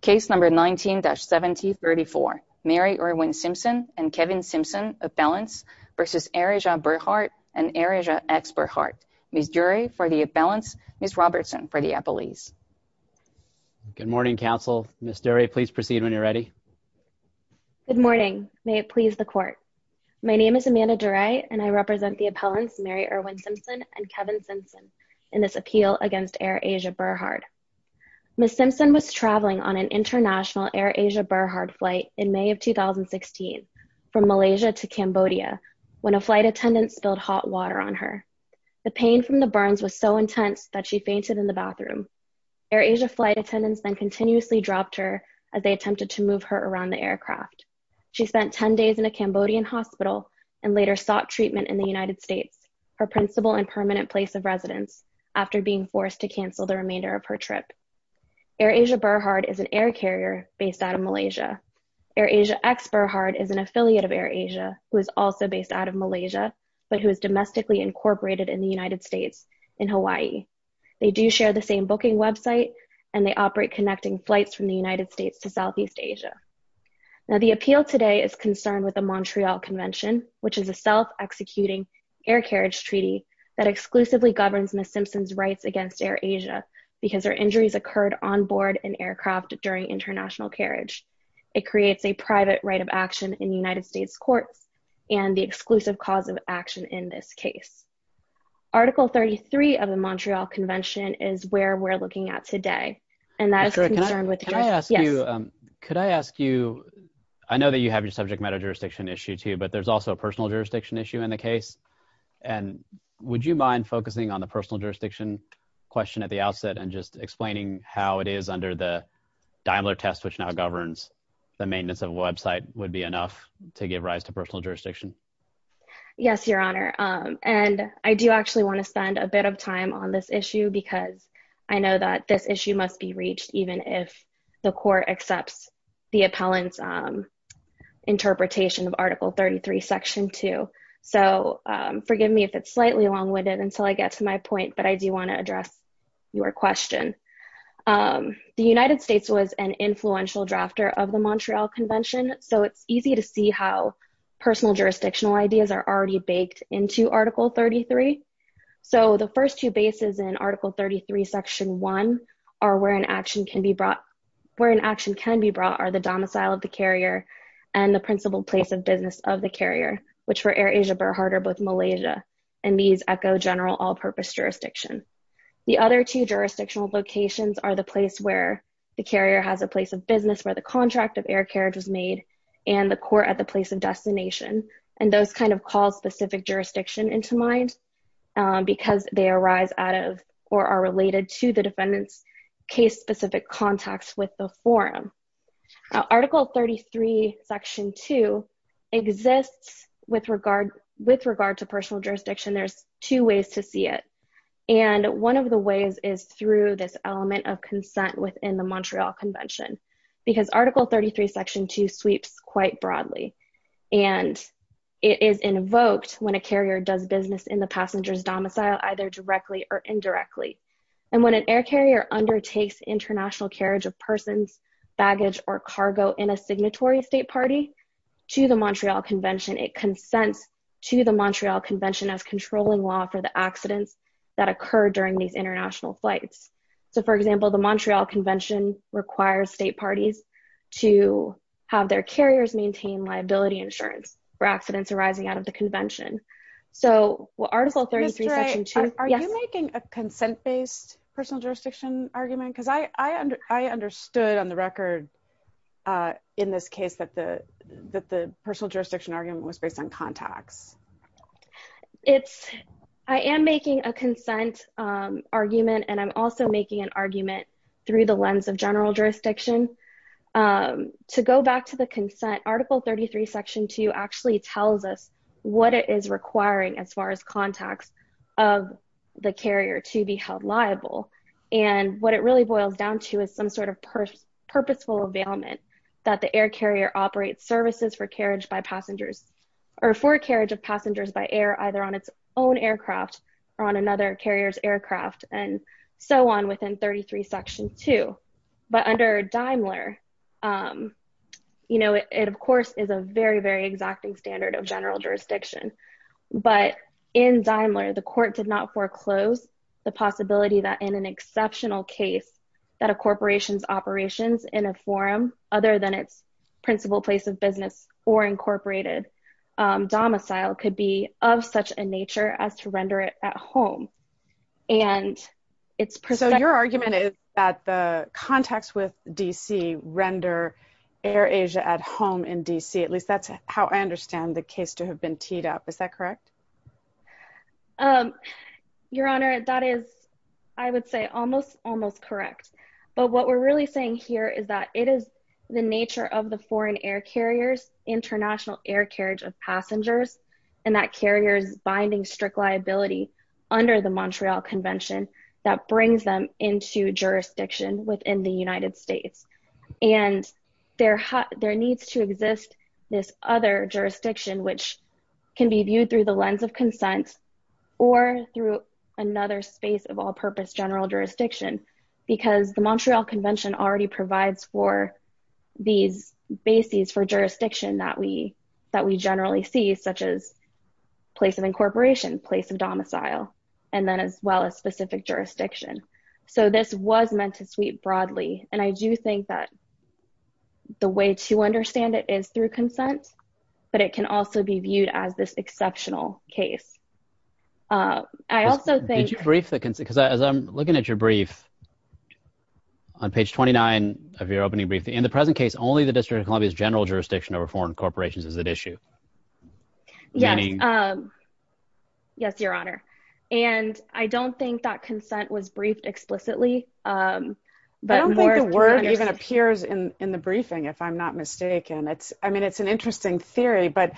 case number 19-1734 Mary Erwin-Simpson and Kevin Simpson appellants versus Air Asia Berhard and Air Asia ex-Berhard. Ms. Durey for the appellants, Ms. Robertson for the appellees. Good morning counsel. Ms. Durey, please proceed when you're ready. Good morning. May it please the court. My name is Amanda Durey and I represent the appellants Mary Erwin-Simpson and Kevin Simpson in this traveling on an international Air Asia Berhard flight in May of 2016 from Malaysia to Cambodia when a flight attendant spilled hot water on her. The pain from the burns was so intense that she fainted in the bathroom. Air Asia flight attendants then continuously dropped her as they attempted to move her around the aircraft. She spent 10 days in a Cambodian hospital and later sought treatment in the United States, her principal and permanent place of Air Asia Berhard is an air carrier based out of Malaysia. Air Asia ex-Berhard is an affiliate of Air Asia who is also based out of Malaysia but who is domestically incorporated in the United States in Hawaii. They do share the same booking website and they operate connecting flights from the United States to Southeast Asia. Now the appeal today is concerned with the Montreal Convention which is a self-executing air carriage treaty that exclusively governs Simpson's rights against Air Asia because their injuries occurred on board an aircraft during international carriage. It creates a private right of action in the United States courts and the exclusive cause of action in this case. Article 33 of the Montreal Convention is where we're looking at today and that is concerned with the jury. Can I ask you, I know that you have your subject matter jurisdiction issue too but there's also a personal jurisdiction issue in the case and would you mind focusing on the personal jurisdiction question at the outset and just explaining how it is under the Daimler test which now governs the maintenance of a website would be enough to give rise to personal jurisdiction? Yes your honor and I do actually want to spend a bit of time on this issue because I know that this issue must be reached even if the court accepts the appellant's interpretation of article 33 section 2 so forgive me if it's slightly long-winded until I get to my point but I do want to address your question. The United States was an influential drafter of the Montreal Convention so it's easy to see how personal jurisdictional ideas are already baked into article 33 so the first two bases in article 33 section 1 are where an action can be brought where an action can be brought are the domicile of the carrier and the principal place of business of the carrier which for AirAsia Burr Harder both Malaysia and these echo general all-purpose jurisdiction. The other two jurisdictional locations are the place where the carrier has a place of business where the contract of air carriage was made and the court at the place of destination and those kind of call specific jurisdiction into mind because they arise out of or are related to the defendants case specific contacts with the forum. Article 33 section 2 exists with regard with regard to personal jurisdiction there's two ways to see it and one of the ways is through this element of consent within the Montreal Convention because article 33 section 2 sweeps quite broadly and it is invoked when a carrier does business in the passenger's domicile either directly or indirectly and when an air carrier undertakes international carriage of persons baggage or cargo in a signatory state party to the Montreal Convention it consents to the Montreal Convention of controlling law for the accidents that occur during these international flights so for example the Montreal Convention requires state parties to have their carriers maintain liability insurance for accidents arising out of the convention so what article 33 section 2. Are you making a consent based personal jurisdiction argument because I understood on the record in this case that the that the personal jurisdiction argument was based on contacts. It's I am making a consent argument and I'm also making an argument through the lens of general jurisdiction to go back to the consent article 33 section 2 actually tells us what it is requiring as far as contacts of the carrier to be held liable and what it really boils down to is some sort of purposeful availment that the air carrier operates services for carriage by passengers or for carriage of passengers by air either on its own aircraft or on another carriers aircraft and so on within 33 section 2 but under Daimler you know it of course is a very exacting standard of general jurisdiction but in Daimler the court did not foreclose the possibility that in an exceptional case that a corporation's operations in a forum other than its principal place of business or incorporated domicile could be of such a nature as to render it at home and it's so your argument is that the contacts with DC render AirAsia at home in DC at least that's how I understand the case to have been teed up is that correct your honor that is I would say almost almost correct but what we're really saying here is that it is the nature of the foreign air carriers international air carriage of passengers and that carriers binding strict liability under the Montreal Convention that brings them into jurisdiction within the United States and their hot there needs to exist this other jurisdiction which can be viewed through the lens of consent or through another space of all-purpose general jurisdiction because the Montreal Convention already provides for these bases for jurisdiction that we that we generally see such as place of incorporation place of domicile and then as well as specific jurisdiction so this was meant to sweep broadly and I do think that the way to understand it is through consent but it can also be viewed as this exceptional case I also think you're brief because as I'm looking at your brief on page 29 of your opening briefing in the present case only the District of Columbia's general jurisdiction over foreign corporations is at issue yes yes your honor and I don't think that consent was briefed explicitly but the word even appears in in the briefing if I'm not mistaken it's I mean it's an interesting theory but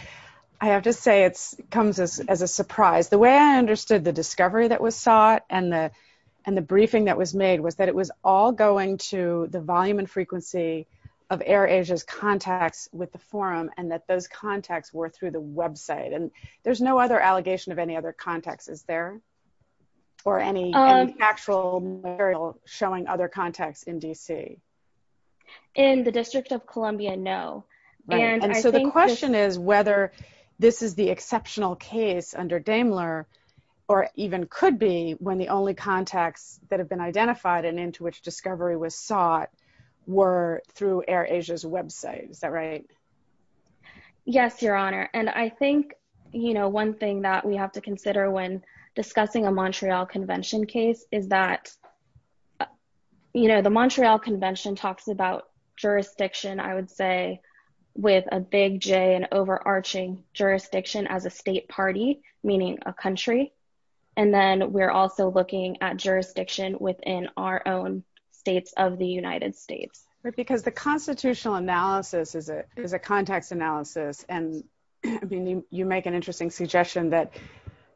I have to say it's comes as a surprise the way I understood the discovery that was sought and the and the briefing that was made was that it was all going to the volume and frequency of Air Asia's contacts were through the website and there's no other allegation of any other context is there or any actual showing other contacts in DC in the District of Columbia no and so the question is whether this is the exceptional case under Daimler or even could be when the only contacts that have been identified and into which discovery was sought were through Air Asia's website is that right yes your honor and I think you know one thing that we have to consider when discussing a Montreal Convention case is that you know the Montreal Convention talks about jurisdiction I would say with a big J and overarching jurisdiction as a state party meaning a country and then we're also looking at jurisdiction within our own states of the United States right because the constitutional analysis is it is a context analysis and I mean you make an interesting suggestion that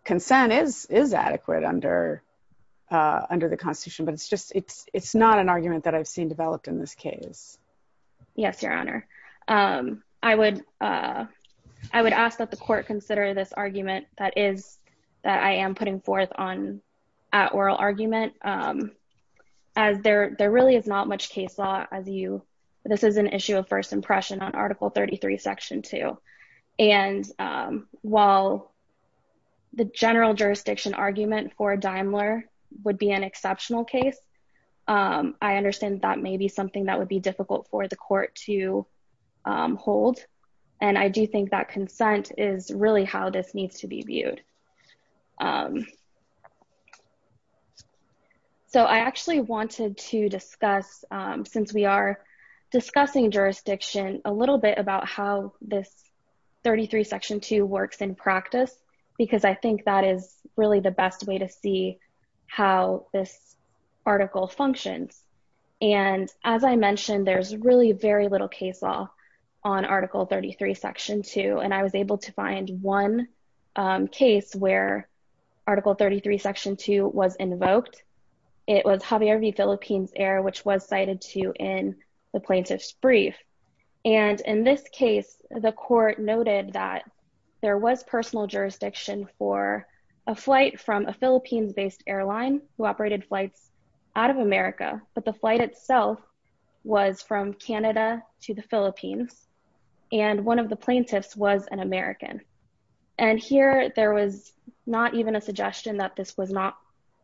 consent is is adequate under under the Constitution but it's just it's it's not an argument that I've seen developed in this case yes your honor I would I would ask that the court consider this argument that is that I am putting forth on at oral argument as there there really is not much case law as you this is an issue of first impression on article 33 section 2 and while the general jurisdiction argument for Daimler would be an exceptional case I understand that may be something that would be difficult for the court to hold and I do think that consent is really how this needs to be viewed so I actually wanted to discuss since we are discussing jurisdiction a little bit about how this 33 section 2 works in practice because I think that is really the best way to see how this article functions and as I mentioned there's really very little case law on article 33 section 2 and I was able to find one case where article 33 section 2 was invoked it was Javier V Philippines air which was cited to in the plaintiffs brief and in this case the court noted that there was personal jurisdiction for a flight from a Philippines based airline who operated flights out of America but the flight itself was from there was not even a suggestion that this was not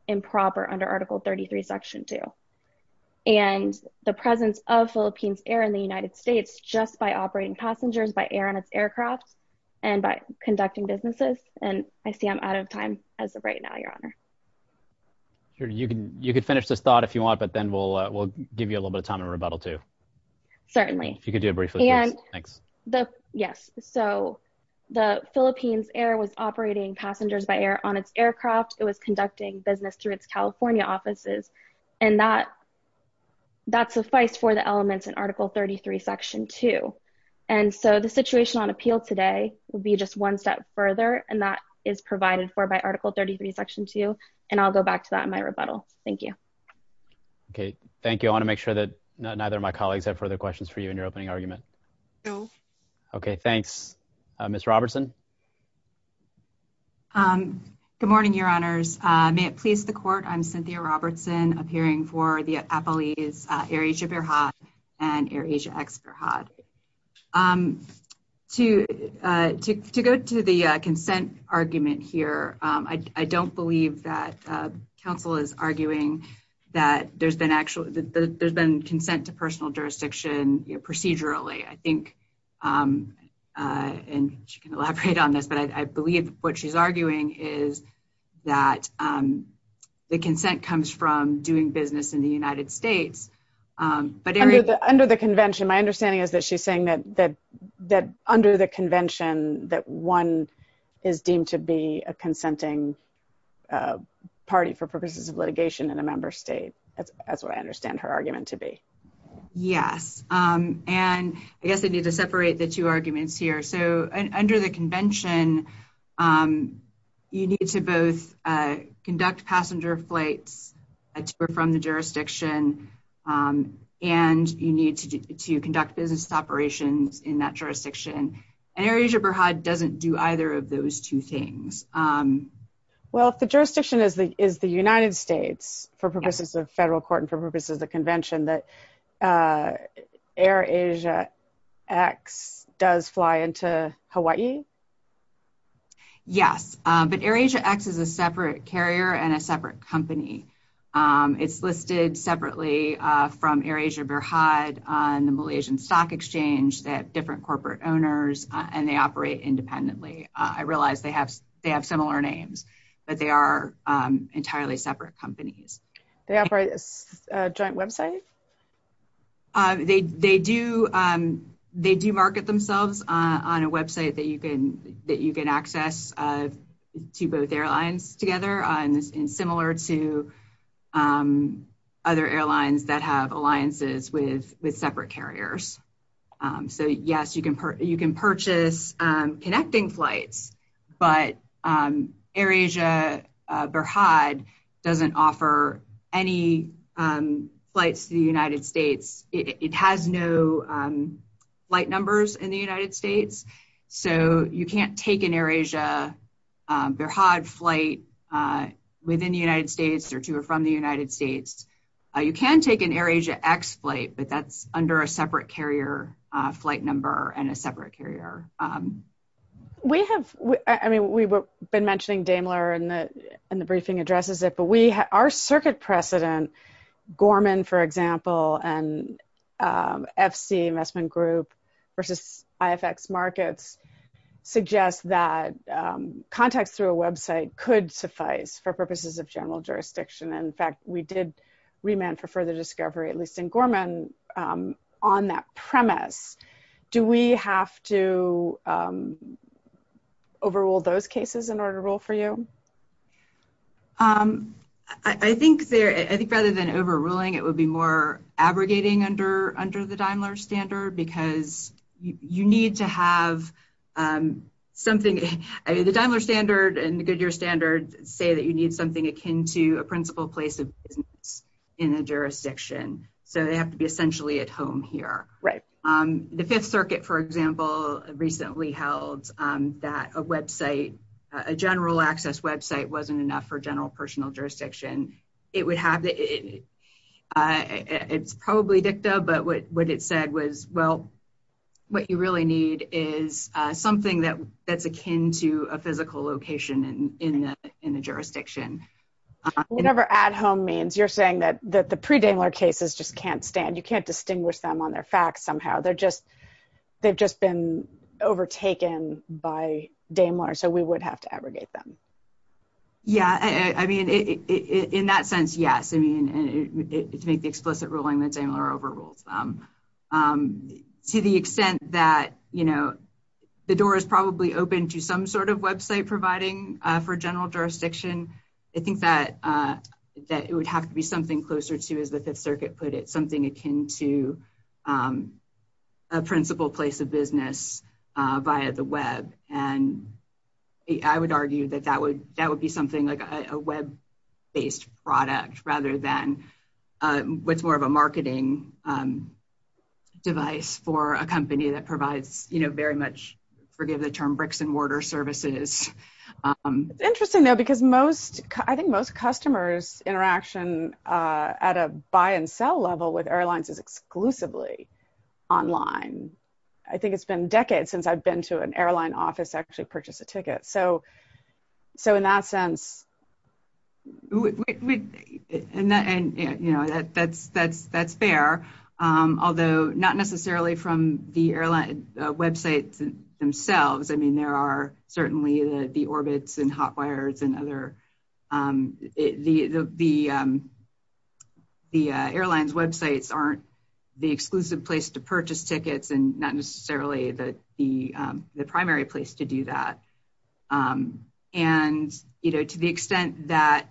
improper under article 33 section 2 and the presence of Philippines air in the United States just by operating passengers by air on its aircraft and by conducting businesses and I see I'm out of time as of right now your honor sure you can you could finish this thought if you want but then we'll we'll give you a little bit of time and rebuttal to certainly if you could do it briefly and thanks the yes so the Philippines air was operating passengers by air on its aircraft it was conducting business through its California offices and that that suffice for the elements in article 33 section 2 and so the situation on appeal today will be just one step further and that is provided for by article 33 section 2 and I'll go back to that in my rebuttal thank you okay thank you I want to make sure that neither my colleagues have further questions for you in your okay thanks miss Robertson good morning your honors may it please the court I'm Cynthia Robertson appearing for the Apple ease areas of your hot and Asia expert hot to go to the consent argument here I don't believe that council is arguing that there's been actually there's been consent to personal jurisdiction procedurally I think and she can elaborate on this but I believe what she's arguing is that the consent comes from doing business in the United States but under the convention my understanding is that she's saying that that that under the convention that one is deemed to be a consenting party for purposes of litigation in a member state that's what I understand her argument to be yes and I guess I need to separate the two arguments here so under the convention you need to both conduct passenger flights or from the jurisdiction and you need to conduct business operations in that jurisdiction and areas of her HUD doesn't do either of those two things well if the jurisdiction is the is the United States for purposes of federal court and for purposes of the convention that AirAsia X does fly into Hawaii yes but AirAsia X is a separate carrier and a separate company it's listed separately from AirAsia bear hide on the Malaysian stock exchange that different corporate owners and they operate independently I realized they have they have similar names but they are entirely separate companies they website they they do they do market themselves on a website that you can that you can access to both airlines together and similar to other airlines that have alliances with with separate carriers so yes you can you can purchase connecting flights but AirAsia bear hide doesn't offer any flights to the United States it has no flight numbers in the United States so you can't take an AirAsia bear hide flight within the United States or to or from the United States you can take an AirAsia X flight but that's under a separate carrier flight number and a separate carrier we have I mean we've been mentioning Daimler and the and the briefing addresses it but we have our circuit precedent Gorman for example and FC investment group versus IFX markets suggests that contacts through a website could suffice for purposes of general jurisdiction in fact we did remand for further discovery at least in Gorman on that premise do we have to overrule those cases in order to rule for you I think there I think rather than overruling it would be more abrogating under under the Daimler standard because you need to have something the Daimler standard and the Goodyear standard say that you need something akin to a principal place of business in a jurisdiction so they have to be essentially at home here right the Fifth Circuit for example recently held that a website a general access website wasn't enough for general personal jurisdiction it would have it's probably dicta but what what it said was well what you really need is something that that's akin to a physical location and in the in the jurisdiction whatever at home means you're saying that that the Daimler cases just can't stand you can't distinguish them on their facts somehow they're just they've just been overtaken by Daimler so we would have to abrogate them yeah I mean in that sense yes I mean it's make the explicit ruling that's a more overruled to the extent that you know the door is probably open to some sort of website providing for general jurisdiction I that that it would have to be something closer to as the Fifth Circuit put it something akin to a principal place of business via the web and I would argue that that would that would be something like a web based product rather than what's more of a marketing device for a company that provides you know very much forgive the term bricks-and-mortar services interesting though because most I think most customers interaction at a buy-and-sell level with airlines is exclusively online I think it's been decades since I've been to an airline office actually purchased a ticket so so in that sense and that and you know that that's that's that's fair although not necessarily from the airline websites themselves I mean there are certainly the orbits and hot wires and the the airlines websites aren't the exclusive place to purchase tickets and not necessarily that the the primary place to do that and you know to the extent that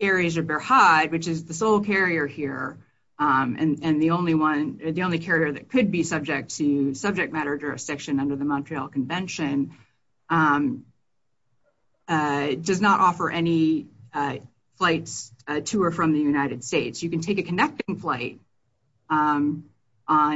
areas are bear hide which is the sole carrier here and and the only one the only carrier that could be subject to subject matter jurisdiction under the Montreal Convention does not offer any flights to or from the United States you can take a connecting flight on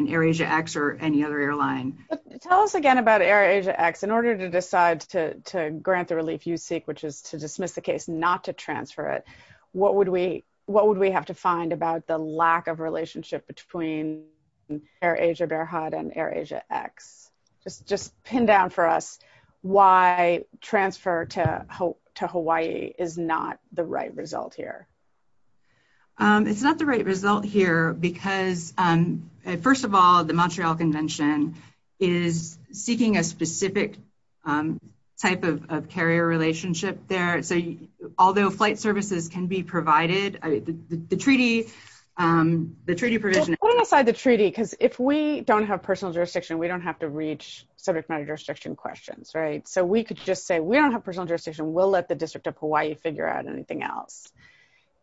AirAsia X or any other airline tell us again about AirAsia X in order to decide to grant the relief you seek which is to dismiss the case not to transfer it what would we what would we have to find about the lack of relationship between AirAsia bear hide and AirAsia X just just pin down for us why transfer to hope to Hawaii is not the right result here it's not the right result here because first of all the Montreal Convention is seeking a specific type of carrier relationship there so although flight services can be provided the treaty the treaty provision aside the treaty because if we don't have personal jurisdiction we don't have to reach subject matter jurisdiction questions right so we could just say we don't have personal jurisdiction will let the District of Hawaii figure out anything else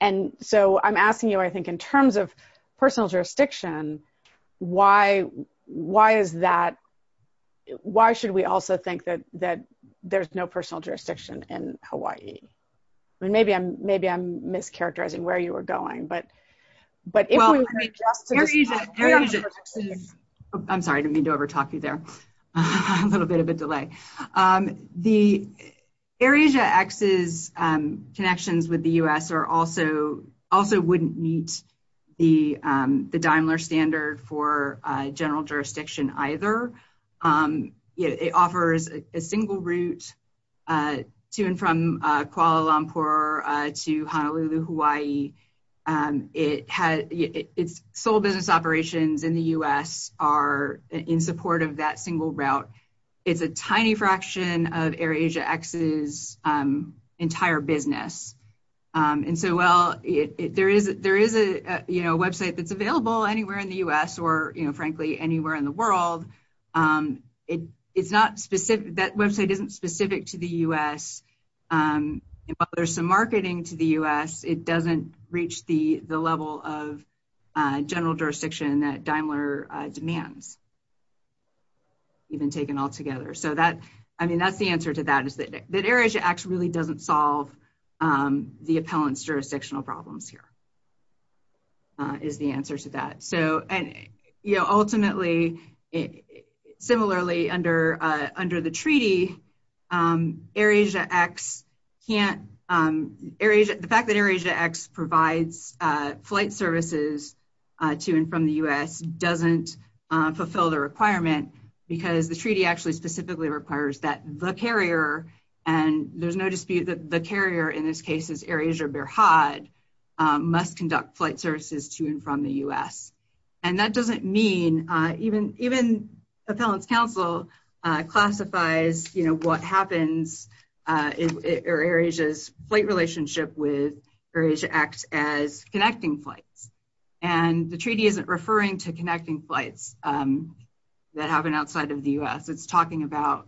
and so I'm asking you I think in terms of personal jurisdiction why why is that why should we also think that that there's no personal jurisdiction in Hawaii I mean maybe I'm maybe I'm mischaracterizing where you were going but but I'm sorry to me to over talk you there a little bit of a delay the AirAsia X's connections with the u.s. are also also wouldn't meet the the Daimler standard for general jurisdiction either it offers a single route to and from Kuala Lumpur to Honolulu Hawaii it had it's sole business operations in the u.s. are in support of that single route it's a tiny fraction of AirAsia X's entire business and so well it there is there is a you know website that's available anywhere in the u.s. or you know frankly anywhere in the world it it's not specific that website isn't specific to the u.s. there's some marketing to the u.s. it doesn't reach the the level of general jurisdiction that Daimler demands even taken all together so that I mean that's the answer to that is that that AirAsia X really doesn't solve the appellants jurisdictional problems here is the answer to that so and you know similarly under under the treaty AirAsia X can't areas the fact that AirAsia X provides flight services to and from the u.s. doesn't fulfill the requirement because the treaty actually specifically requires that the carrier and there's no dispute that the carrier in this case is AirAsia Behrad must conduct flight services to and from the u.s. and that doesn't mean even even appellants counsel classifies you know what happens in areas flight relationship with various acts as connecting flights and the treaty isn't referring to connecting flights that happen outside of the u.s. it's talking about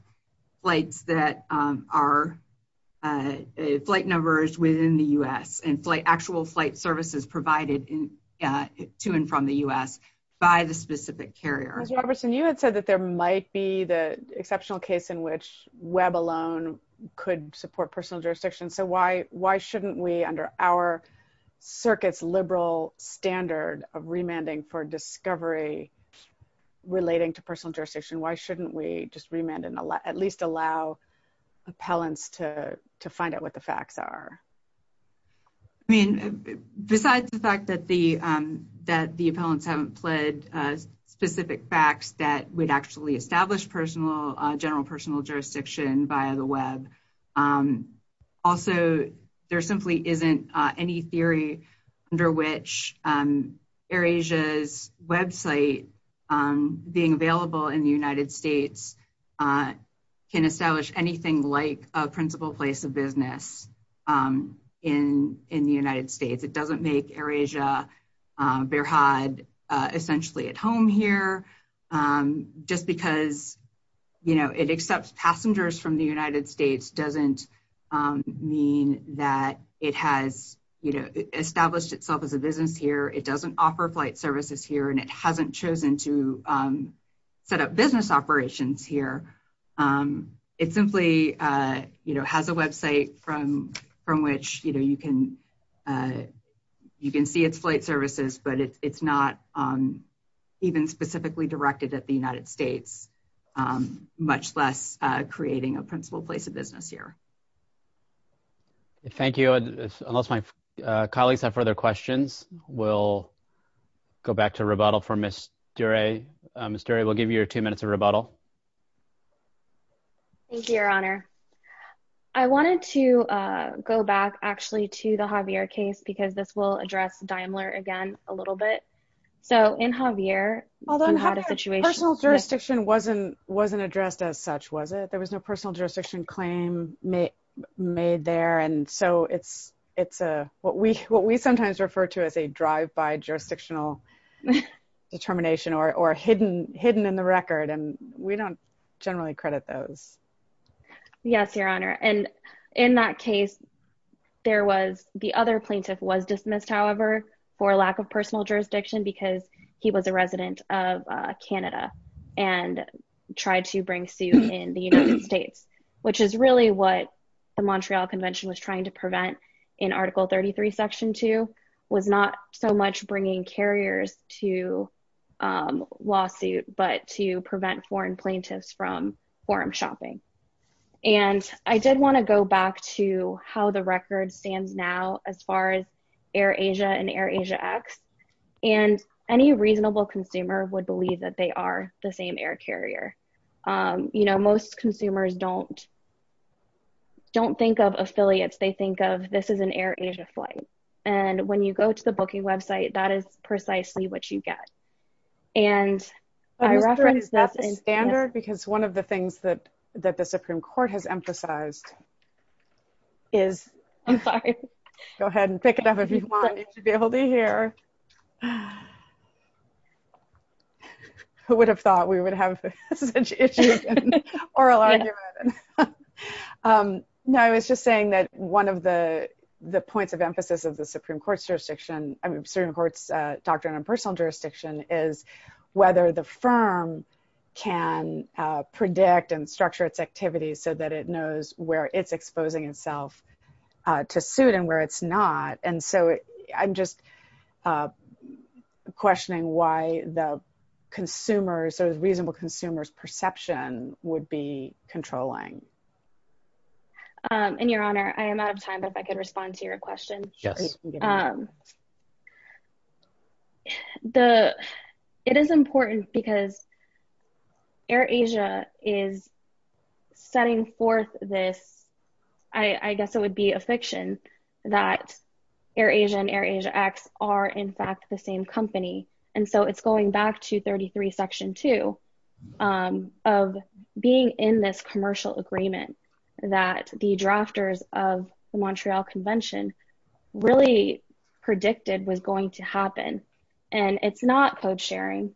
flights that are flight numbers within the u.s. and flight actual flight services provided in to and from the u.s. by the specific carrier Robertson you had said that there might be the exceptional case in which web alone could support personal jurisdiction so why why shouldn't we under our circuits liberal standard of remanding for discovery relating to personal jurisdiction why shouldn't we just remand and allow at least allow appellants to to find out what the facts are I mean besides the fact that the that the appellants haven't pled specific facts that would actually establish personal general personal jurisdiction via the web also there simply isn't any theory under which air Asia's website being available in the United States can establish anything like a principal place of business in in the United States it doesn't make air Asia bear had essentially at home here just because you know it accepts passengers from the United States doesn't mean that it has you know established itself as a here it doesn't offer flight services here and it hasn't chosen to set up business operations here it simply you know has a website from from which you know you can you can see its flight services but it's not even specifically directed at the United States much less creating a principal place of business here thank you unless my colleagues have further questions we'll go back to rebuttal for mr. a mystery will give you your two minutes of rebuttal thank you your honor I wanted to go back actually to the Javier case because this will address Daimler again a little bit so in Javier although not a situation jurisdiction wasn't wasn't addressed as such was it there was no personal jurisdiction claim made there and so it's it's a what we what we sometimes refer to as a drive-by jurisdictional determination or hidden hidden in the record and we don't generally credit those yes your honor and in that case there was the other plaintiff was dismissed however for lack of personal jurisdiction because he was a resident of Canada and tried to bring States which is really what the Montreal Convention was trying to prevent in article 33 section 2 was not so much bringing carriers to lawsuit but to prevent foreign plaintiffs from forum shopping and I did want to go back to how the record stands now as far as Air Asia and Air Asia X and any reasonable consumer would believe that they are the same air carrier you know most consumers don't don't think of affiliates they think of this is an air Asia flight and when you go to the booking website that is precisely what you get and I reference that standard because one of the things that that the Supreme Court has emphasized is I'm sorry go ahead and pick it up if you who would have thought we would have no I was just saying that one of the the points of emphasis of the Supreme Court's jurisdiction I mean certain courts doctrine and personal jurisdiction is whether the firm can predict and structure its activities so that it knows where it's exposing itself to suit and where it's not and so I'm just questioning why the consumers so as reasonable consumers perception would be controlling and your honor I am out of time but if I could respond to your question yes the it is important because Air Asia is setting forth this I I guess it would be a fiction that Air Asia and Air Asia X are in fact the same company and so it's going back to 33 section 2 of being in this commercial agreement that the drafters of the Montreal Convention really predicted was going to happen and it's not code agreement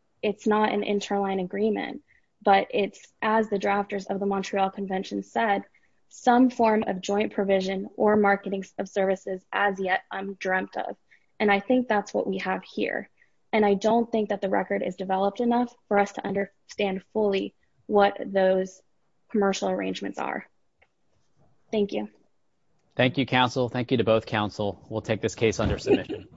but it's as the drafters of the Montreal Convention said some form of joint provision or marketing of services as yet I'm dreamt of and I think that's what we have here and I don't think that the record is developed enough for us to understand fully what those commercial arrangements are thank you thank you counsel thank you to both counsel we'll take this case under submission